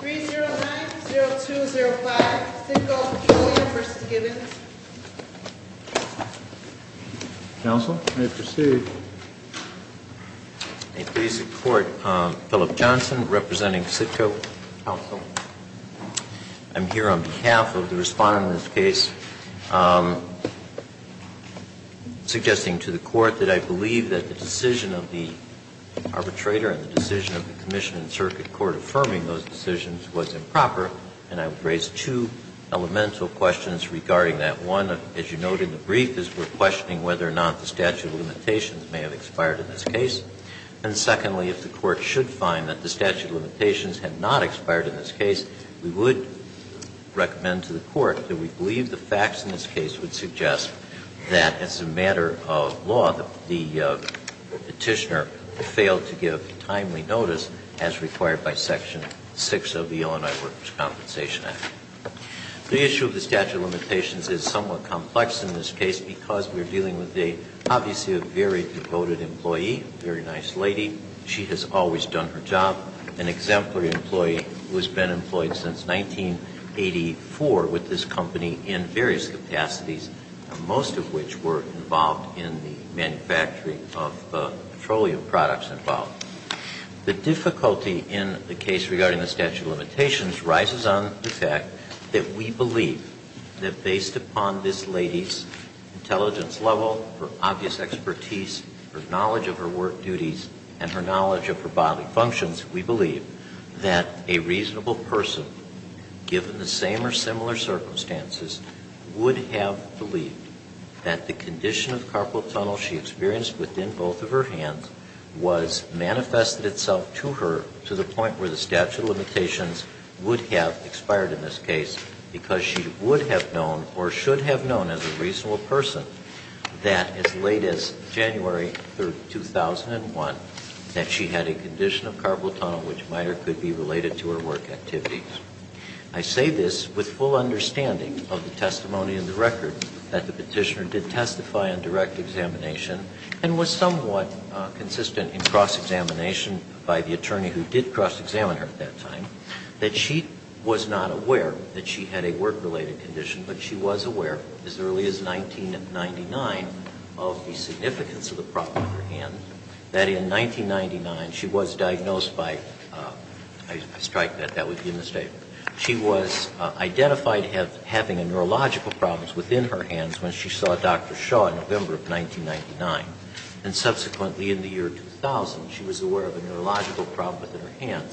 3090205 Sitco Petroleum v. Gibbons Counsel, may I proceed? May it please the Court, Philip Johnson representing Sitco Council. I'm here on behalf of the respondent of this case, suggesting to the Court that I believe that the decision of the arbitrator and the decision of the Commission and Circuit Court affirming those decisions was improper. And I would raise two elemental questions regarding that. One, as you note in the brief, is we're questioning whether or not the statute of limitations may have expired in this case. And secondly, if the Court should find that the statute of limitations had not expired in this case, we would recommend to the Court that we believe the facts in this case would suggest that, as a matter of law, the petitioner failed to give timely notice as required by Section 6 of the Illinois Workers' Compensation Act. The issue of the statute of limitations is somewhat complex in this case because we're dealing with a, obviously, a very devoted employee, a very nice lady. She has always done her job. An exemplary employee who has been employed since 1984 with this company in various capacities, most of which were involved in the manufacturing of petroleum products involved. The difficulty in the case regarding the statute of limitations rises on the fact that we believe that, based upon this lady's intelligence level, her obvious expertise, her knowledge of her work duties, and her knowledge of her bodily functions, we believe that a reasonable person, given the same or similar circumstances, would have believed that the condition of carpal tunnel she experienced within both of her hands was manifested itself to her to the point where the statute of limitations would have expired in this case because she would have known or should have known as a reasonable person that as late as January 2001 that she had a condition of carpal tunnel which might or could be related to her work activities. I say this with full understanding of the testimony in the record that the Petitioner did testify on direct examination and was somewhat consistent in cross-examination by the attorney who did cross-examine her at that time, that she was not aware that she had a work-related condition, but she was aware as early as 1999 of the significance of the problem in her hand, that in 1999 she was diagnosed by, I strike that that would be a mistake. She was identified having neurological problems within her hands when she saw Dr. Shaw in November of 1999. And subsequently in the year 2000, she was aware of a neurological problem within her hand.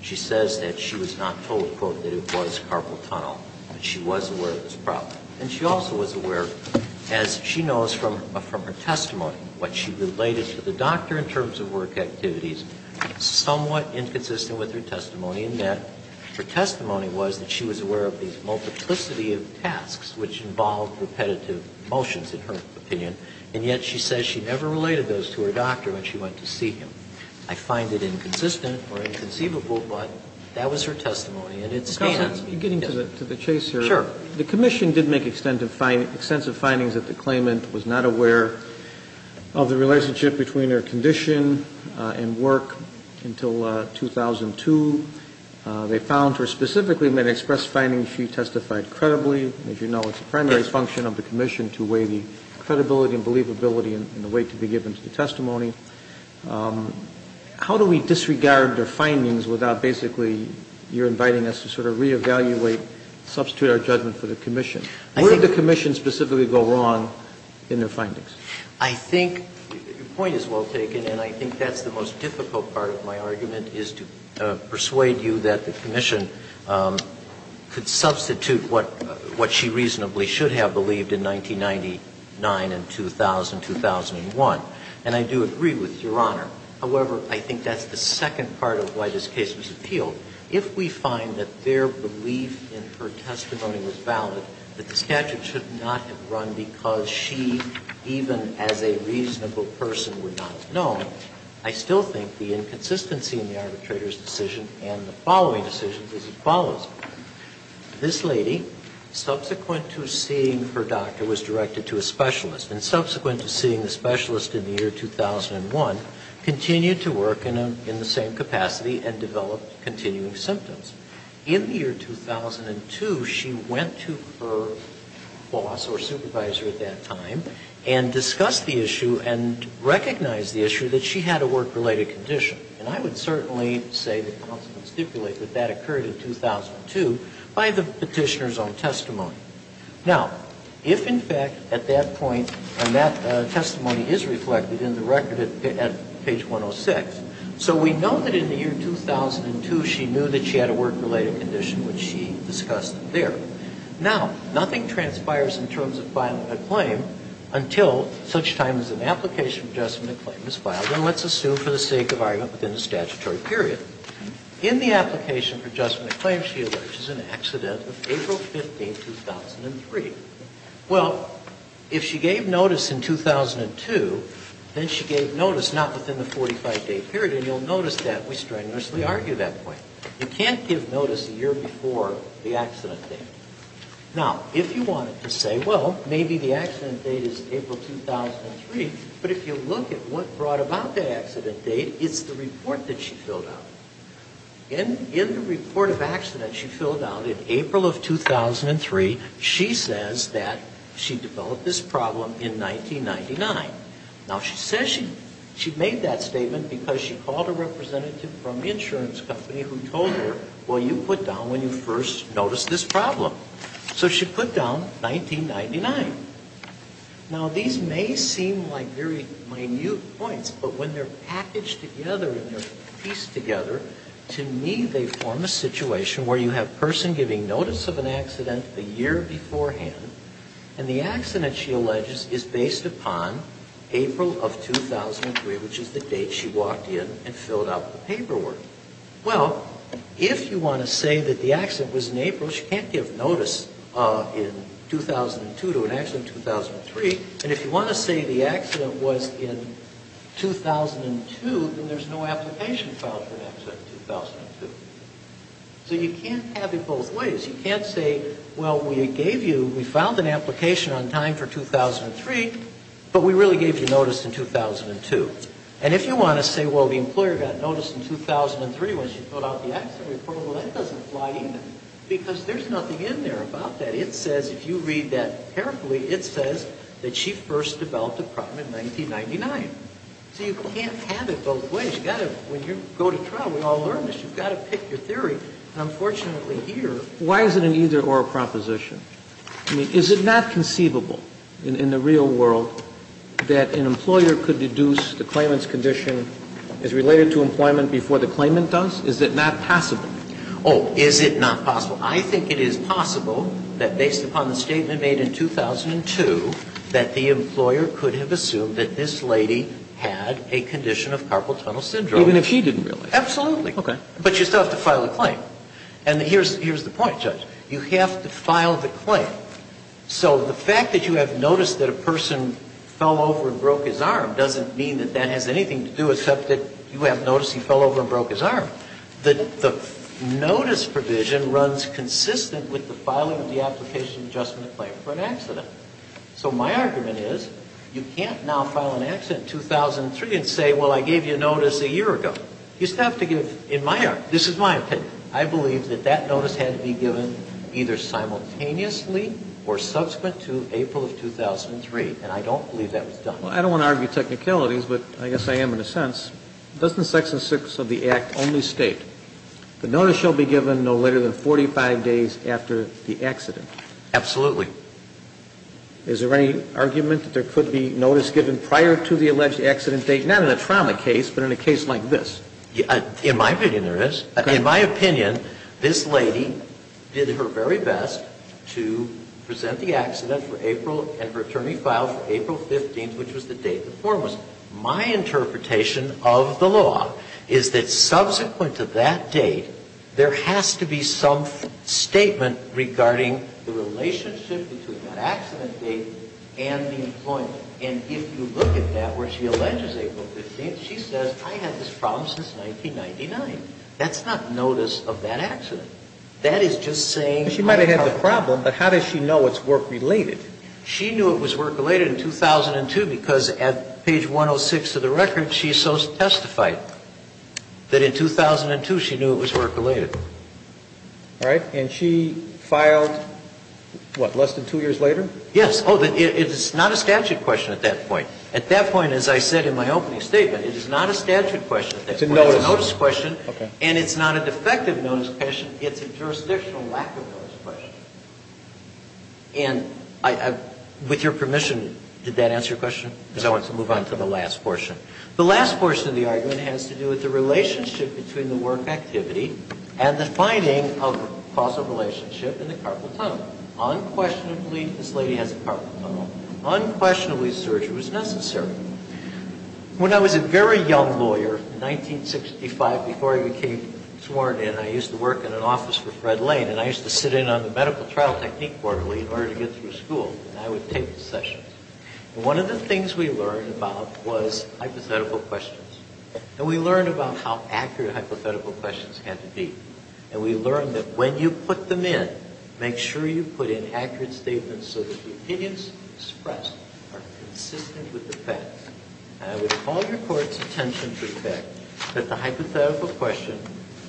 She says that she was not told, quote, that it was carpal tunnel, but she was aware of this problem. And she also was aware, as she knows from her testimony, what she related to the doctor in terms of work activities somewhat inconsistent with her testimony, and that her testimony was that she was aware of these multiplicity of tasks which involved repetitive motions, in her opinion. And yet she says she never related those to her doctor when she went to see him. I find it inconsistent or inconceivable, but that was her testimony. And it stands. Yes. Roberts, are you getting to the chase here? Sure. The commission did make extensive findings that the claimant was not aware of the relationship between her condition and work until 2002. They found her specifically and then expressed findings she testified credibly. As you know, it's the primary function of the commission to weigh the credibility and believability and the weight to be given to the testimony. How do we disregard their findings without basically you're inviting us to sort of reevaluate, substitute our judgment for the commission? Where did the commission specifically go wrong in their findings? I think your point is well taken, and I think that's the most difficult part of my argument, is to persuade you that the commission could substitute what she reasonably should have believed in 1999 and 2000, 2001. And I do agree with Your Honor. However, I think that's the second part of why this case was appealed. If we find that their belief in her testimony was valid, that the statute should not have run because she, even as a reasonable person, would not have known, I still think the inconsistency in the arbitrator's decision and the following decision is as follows. This lady, subsequent to seeing her doctor, was directed to a specialist, and subsequent to seeing the specialist in the year 2001, continued to work in the same capacity and developed continuing symptoms. In the year 2002, she went to her boss or supervisor at that time and discussed the issue and recognized the issue that she had a work-related condition. And I would certainly say that counsel would stipulate that that occurred in 2002 by the petitioner's own testimony. Now, if in fact at that point, and that testimony is reflected in the record at page 106, So we know that in the year 2002, she knew that she had a work-related condition, which she discussed there. Now, nothing transpires in terms of filing a claim until such time as an application for adjustment of claim is filed, and let's assume for the sake of argument within the statutory period. In the application for adjustment of claim, she alleges an accident of April 15, 2003. Well, if she gave notice in 2002, then she gave notice not within the 45-day period, and you'll notice that we strenuously argue that point. You can't give notice a year before the accident date. Now, if you wanted to say, well, maybe the accident date is April 2003, but if you look at what brought about the accident date, it's the report that she filled out. In the report of accident she filled out in April of 2003, she says that she developed this problem in 1999. Now, she says she made that statement because she called a representative from the insurance company who told her, well, you put down when you first noticed this problem. So she put down 1999. Now, these may seem like very minute points, but when they're packaged together and they're pieced together, to me they form a situation where you have a person giving notice of an accident a year beforehand, and the accident, she alleges, is based upon April of 2003, which is the date she walked in and filled out the paperwork. Well, if you want to say that the accident was in April, she can't give notice in 2002 to an accident in 2003, and if you want to say the accident was in 2002, then there's no application filed for an accident in 2002. So you can't have it both ways. You can't say, well, we gave you, we filed an application on time for 2003, but we really gave you notice in 2002. And if you want to say, well, the employer got notice in 2003 when she filled out the accident report, well, that doesn't fly either because there's nothing in there about that. And it says, if you read that carefully, it says that she first developed a crime in 1999. So you can't have it both ways. You've got to, when you go to trial, we all learn this, you've got to pick your theory. Unfortunately, here... Why is it an either-or proposition? I mean, is it not conceivable in the real world that an employer could deduce the claimant's condition as related to employment before the claimant does? Is it not possible? Oh, is it not possible? I think it is possible that based upon the statement made in 2002 that the employer could have assumed that this lady had a condition of carpal tunnel syndrome. Even if she didn't really? Absolutely. Okay. But you still have to file the claim. And here's the point, Judge. You have to file the claim. So the fact that you have notice that a person fell over and broke his arm doesn't his arm. The notice provision runs consistent with the filing of the application adjustment claim for an accident. So my argument is you can't now file an accident in 2003 and say, well, I gave you a notice a year ago. You still have to give, in my opinion, this is my opinion, I believe that that notice had to be given either simultaneously or subsequent to April of 2003. And I don't believe that was done. Well, I don't want to argue technicalities, but I guess I am in a sense. Doesn't Section 6 of the Act only state the notice shall be given no later than 45 days after the accident? Absolutely. Is there any argument that there could be notice given prior to the alleged accident date, not in a trauma case, but in a case like this? In my opinion, there is. In my opinion, this lady did her very best to present the accident for April and her attorney filed for April 15th, which was the date the form was. My interpretation of the law is that subsequent to that date, there has to be some statement regarding the relationship between that accident date and the employment. And if you look at that where she alleges April 15th, she says, I had this problem since 1999. That's not notice of that accident. That is just saying. She might have had the problem, but how does she know it's work-related? She knew it was work-related in 2002 because at page 106 of the record, she testified that in 2002 she knew it was work-related. All right. And she filed, what, less than two years later? Yes. It's not a statute question at that point. At that point, as I said in my opening statement, it is not a statute question. It's a notice question. And it's not a defective notice question. It's a jurisdictional lack of notice question. And with your permission, did that answer your question? Because I want to move on to the last portion. The last portion of the argument has to do with the relationship between the work activity and the finding of a causal relationship in the carpal tunnel. Unquestionably, this lady has a carpal tunnel. Unquestionably, surgery was necessary. When I was a very young lawyer in 1965, before I became sworn in, I used to work in an office for Fred Lane, and I used to sit in on the medical trial technique quarterly in order to get through school, and I would take the sessions. And one of the things we learned about was hypothetical questions. And we learned about how accurate hypothetical questions had to be. And we learned that when you put them in, make sure you put in accurate statements so that the opinions expressed are consistent with the facts. And I would call your court's attention to the fact that the hypothetical question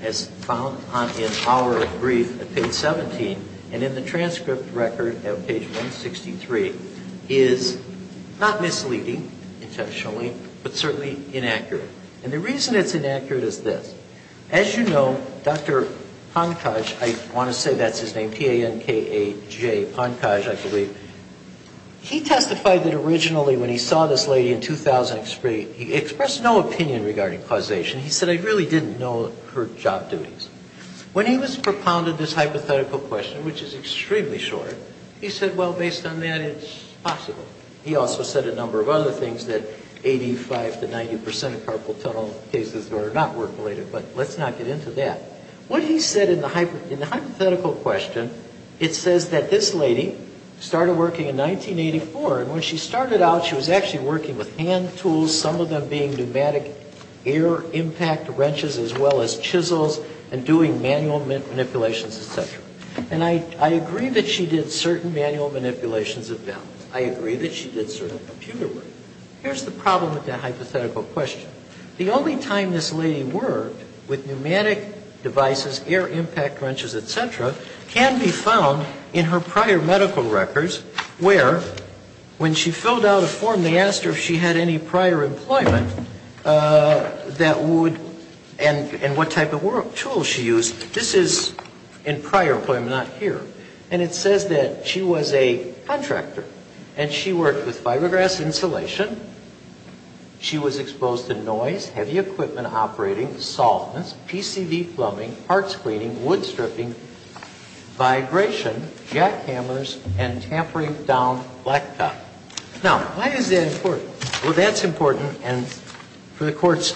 as found in our brief at page 17 and in the transcript record at page 163 is not misleading intentionally, but certainly inaccurate. And the reason it's inaccurate is this. As you know, Dr. Pankaj, I want to say that's his name, P-A-N-K-A-J, Pankaj, I believe, he testified that originally when he saw this lady in 2003, he expressed no opinion regarding causation. He said, I really didn't know her job duties. When he was propounded this hypothetical question, which is extremely short, he said, well, based on that, it's possible. He also said a number of other things that 85 to 90% of carpal tunnel cases are not work-related, but let's not get into that. What he said in the hypothetical question, it says that this lady started working in 1984, and when she started out, she was actually working with hand impact wrenches as well as chisels and doing manual manipulations, et cetera. And I agree that she did certain manual manipulations of valves. I agree that she did certain computer work. Here's the problem with that hypothetical question. The only time this lady worked with pneumatic devices, air impact wrenches, et cetera, can be found in her prior medical records where when she filled out a form, they asked her if she had any prior employment that would and what type of tools she used. This is in prior employment, not here. And it says that she was a contractor, and she worked with fiberglass insulation, she was exposed to noise, heavy equipment operating, softness, PCV plumbing, parts cleaning, wood stripping, vibration, jackhammers, and tampering down blacktop. Now, why is that important? Well, that's important, and for the Court's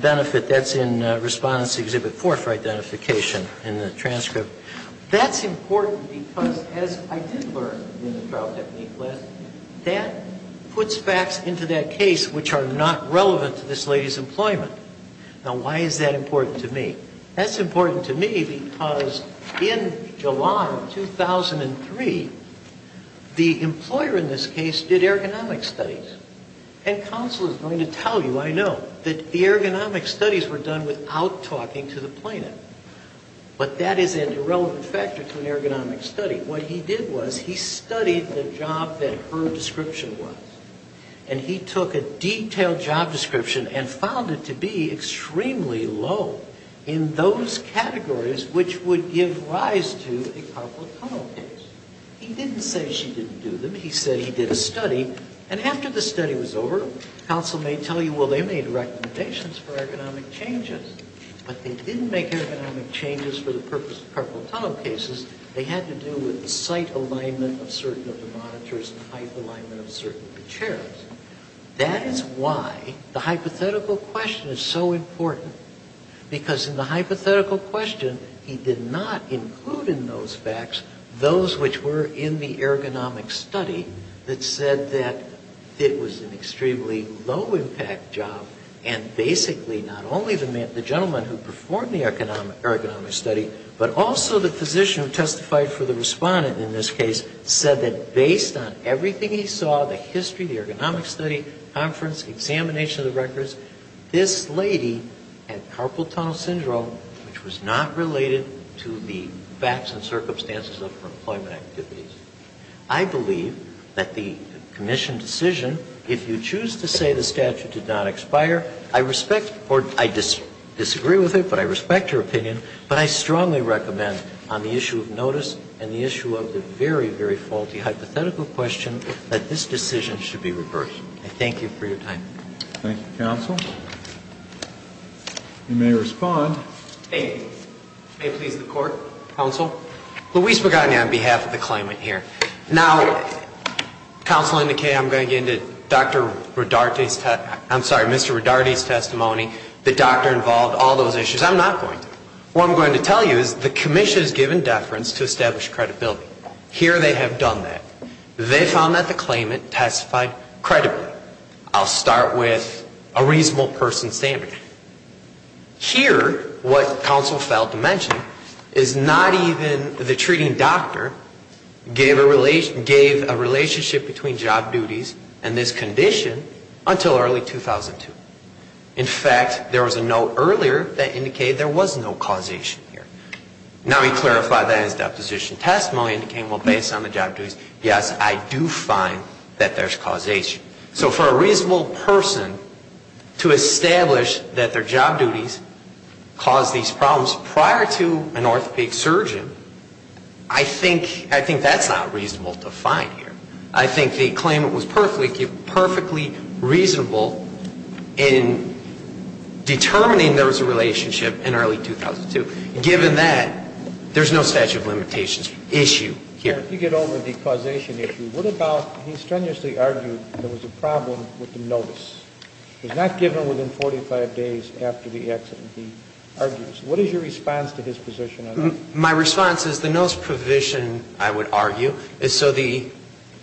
benefit, that's in Respondent's Exhibit 4 for identification in the transcript. That's important because, as I did learn in the trial technique lesson, that puts facts into that case which are not relevant to this lady's employment. Now, why is that important to me? That's important to me because in July of 2003, the employer in this case did ergonomics studies. And counsel is going to tell you, I know, that the ergonomics studies were done without talking to the plaintiff. But that is an irrelevant factor to an ergonomics study. What he did was he studied the job that her description was, and he took a low in those categories which would give rise to a carpal tunnel case. He didn't say she didn't do them. He said he did a study. And after the study was over, counsel may tell you, well, they made recommendations for ergonomic changes. But they didn't make ergonomic changes for the purpose of carpal tunnel cases. They had to do with the site alignment of certain of the monitors and height alignment of certain of the chairs. That is why the hypothetical question is so important. Because in the hypothetical question, he did not include in those facts those which were in the ergonomics study that said that it was an extremely low-impact job. And basically, not only the gentleman who performed the ergonomics study, but also the physician who testified for the respondent in this case said that based on everything he saw, the history, the ergonomics study, conference, examination of the records, this lady had carpal tunnel syndrome which was not related to the facts and circumstances of her employment activities. I believe that the commission decision, if you choose to say the statute did not expire, I respect or I disagree with it, but I respect your opinion. But I strongly recommend on the issue of notice and the issue of the very, very faulty hypothetical question that this decision should be reversed. I thank you for your time. Thank you, counsel. You may respond. May it please the Court, counsel? Luis Pagani on behalf of the claimant here. Now, counsel Indicate, I'm going to get into Dr. Rodarte's, I'm sorry, Mr. Rodarte's testimony, the doctor involved, all those issues. I'm not going to. What I'm going to tell you is the commission is given deference to establish credibility. Here they have done that. They found that the claimant testified credibly. I'll start with a reasonable person's standard. Here what counsel failed to mention is not even the treating doctor gave a relationship between job duties and this condition until early 2002. In fact, there was a note earlier that indicated there was no causation here. Now, he clarified that in his deposition testimony and became, well, based on the job duties, yes, I do find that there's causation. So for a reasonable person to establish that their job duties caused these problems prior to an orthopedic surgeon, I think that's not reasonable to find here. I think the claimant was perfectly reasonable in determining there was a relationship in early 2002. Given that, there's no statute of limitations issue here. If you get over the causation issue, what about he strenuously argued there was a problem with the notice. It was not given within 45 days after the accident, he argues. What is your response to his position on that? My response is the notice provision, I would argue, is so the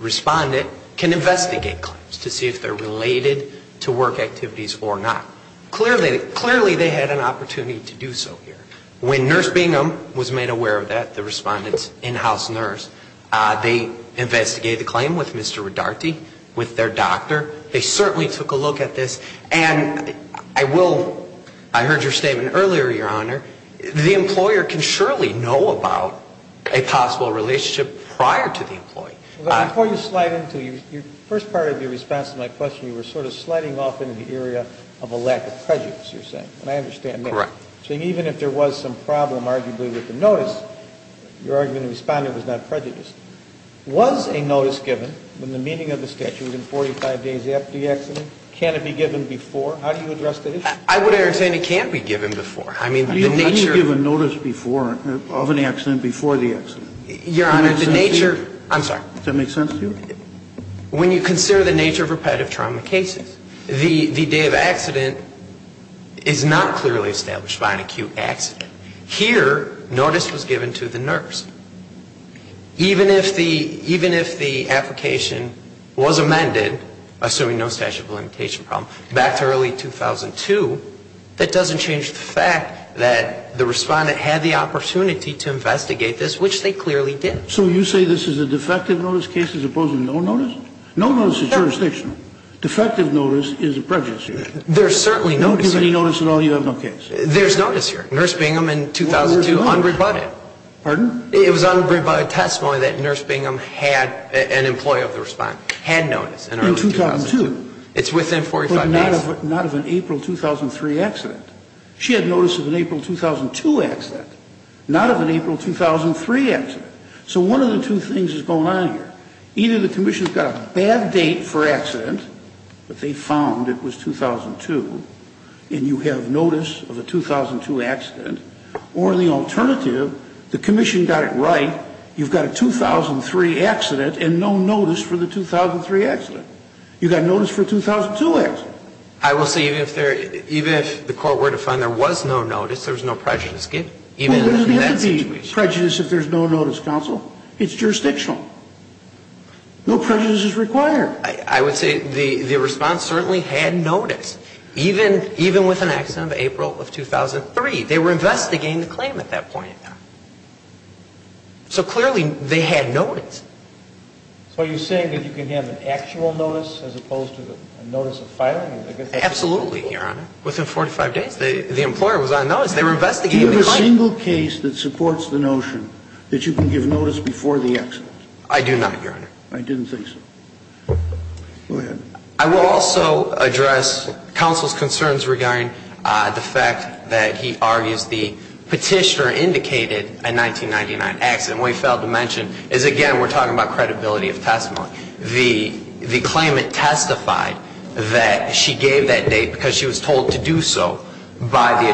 respondent can investigate claims to see if they're related to work activities or not. Clearly, they had an opportunity to do so here. When Nurse Bingham was made aware of that, the respondent's in-house nurse, they investigated the claim with Mr. Rodarte, with their doctor. They certainly took a look at this. And I will, I heard your statement earlier, Your Honor, the employer can surely know about a possible relationship prior to the employee. Before you slide into your first part of your response to my question, you were sort of sliding off into the area of a lack of prejudice, you're saying. And I understand that. Correct. So even if there was some problem, arguably, with the notice, your argument of the respondent was not prejudiced. Was a notice given, in the meaning of the statute, within 45 days after the accident? Can it be given before? How do you address the issue? I would entertain it can't be given before. I mean, the nature. How do you give a notice before, of an accident, before the accident? Your Honor, the nature. Does that make sense to you? I'm sorry. Does that make sense to you? When you consider the nature of repetitive trauma cases, the day of accident is not clearly established by an acute accident. Here, notice was given to the nurse. Even if the application was amended, assuming no statute of limitation problem, back to early 2002, that doesn't change the fact that the respondent had the opportunity to investigate this, which they clearly did. So you say this is a defective notice case, as opposed to no notice? No notice is jurisdictional. Defective notice is a prejudice here. There's certainly notice here. Don't give any notice at all, you have no case. There's notice here. Nurse Bingham, in 2002, unrebutted. Pardon? It was unrebutted testimony that Nurse Bingham had, an employee of the respondent, had notice in early 2002. In 2002? It's within 45 days. But not of an April 2003 accident. She had notice of an April 2002 accident. Not of an April 2003 accident. So one of the two things is going on here. Either the Commission's got a bad date for accident, but they found it was 2002, and you have notice of a 2002 accident. Or the alternative, the Commission got it right, you've got a 2003 accident and no notice for the 2003 accident. You've got notice for a 2002 accident. I will say, even if the Court were to find there was no notice, there was no prejudice given, even in that situation. Prejudice if there's no notice, counsel? It's jurisdictional. No prejudice is required. I would say the response certainly had notice, even with an accident of April of 2003. They were investigating the claim at that point. So clearly, they had notice. So are you saying that you can have an actual notice as opposed to a notice of filing? Absolutely, Your Honor. Within 45 days, the employer was on notice. They were investigating the claim. Is there a single case that supports the notion that you can give notice before the accident? I do not, Your Honor. I didn't think so. Go ahead. I will also address counsel's concerns regarding the fact that he argues the petitioner indicated a 1999 accident. What he failed to mention is, again, we're talking about credibility of testimony. The claimant testified that she gave that date because she was told to do so by the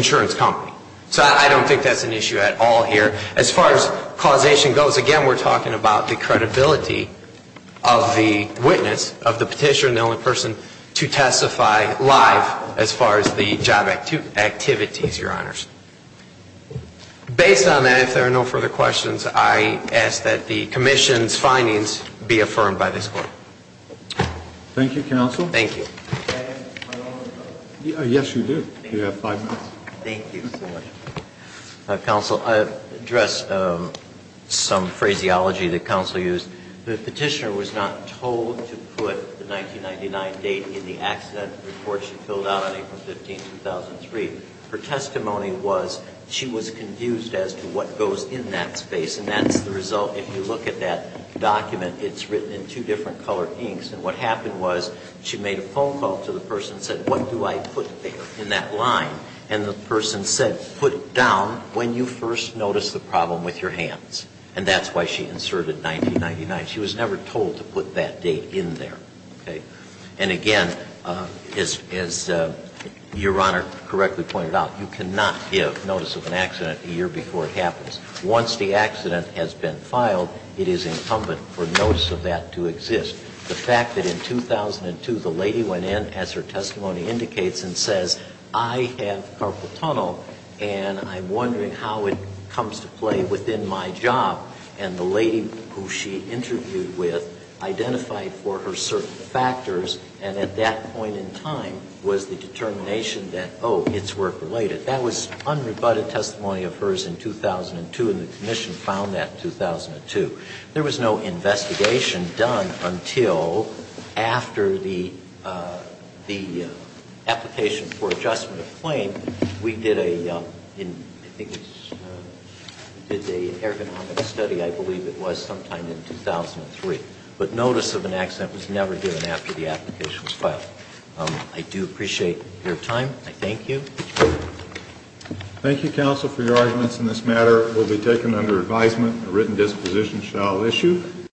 insurance company. So I don't think that's an issue at all here. As far as causation goes, again, we're talking about the credibility of the witness, of the petitioner and the only person to testify live as far as the job activities, Your Honors. Based on that, if there are no further questions, I ask that the commission's findings be affirmed by this Court. Thank you, counsel. Thank you. Yes, you do. You have five minutes. Thank you so much. Counsel, I'll address some phraseology that counsel used. The petitioner was not told to put the 1999 date in the accident report she filled out on April 15, 2003. Her testimony was she was confused as to what goes in that space. And that's the result. If you look at that document, it's written in two different colored inks. And what happened was she made a phone call to the person and said, what do I put there in that line? And the person said, put it down when you first notice the problem with your hands. And that's why she inserted 1999. She was never told to put that date in there. And, again, as Your Honor correctly pointed out, you cannot give notice of an accident a year before it happens. Once the accident has been filed, it is incumbent for notice of that to exist. The fact that in 2002 the lady went in, as her testimony indicates, and says, I have carpal tunnel and I'm wondering how it comes to play within my job. And the lady who she interviewed with identified for her certain factors, and at that point in time was the determination that, oh, it's work-related. That was unrebutted testimony of hers in 2002, and the commission found that in 2002. There was no investigation done until after the application for adjustment of claim. We did an ergonomic study, I believe it was, sometime in 2003. But notice of an accident was never given after the application was filed. I do appreciate your time. I thank you. Thank you, counsel, for your arguments in this matter. This matter will be taken under advisement. A written disposition shall issue.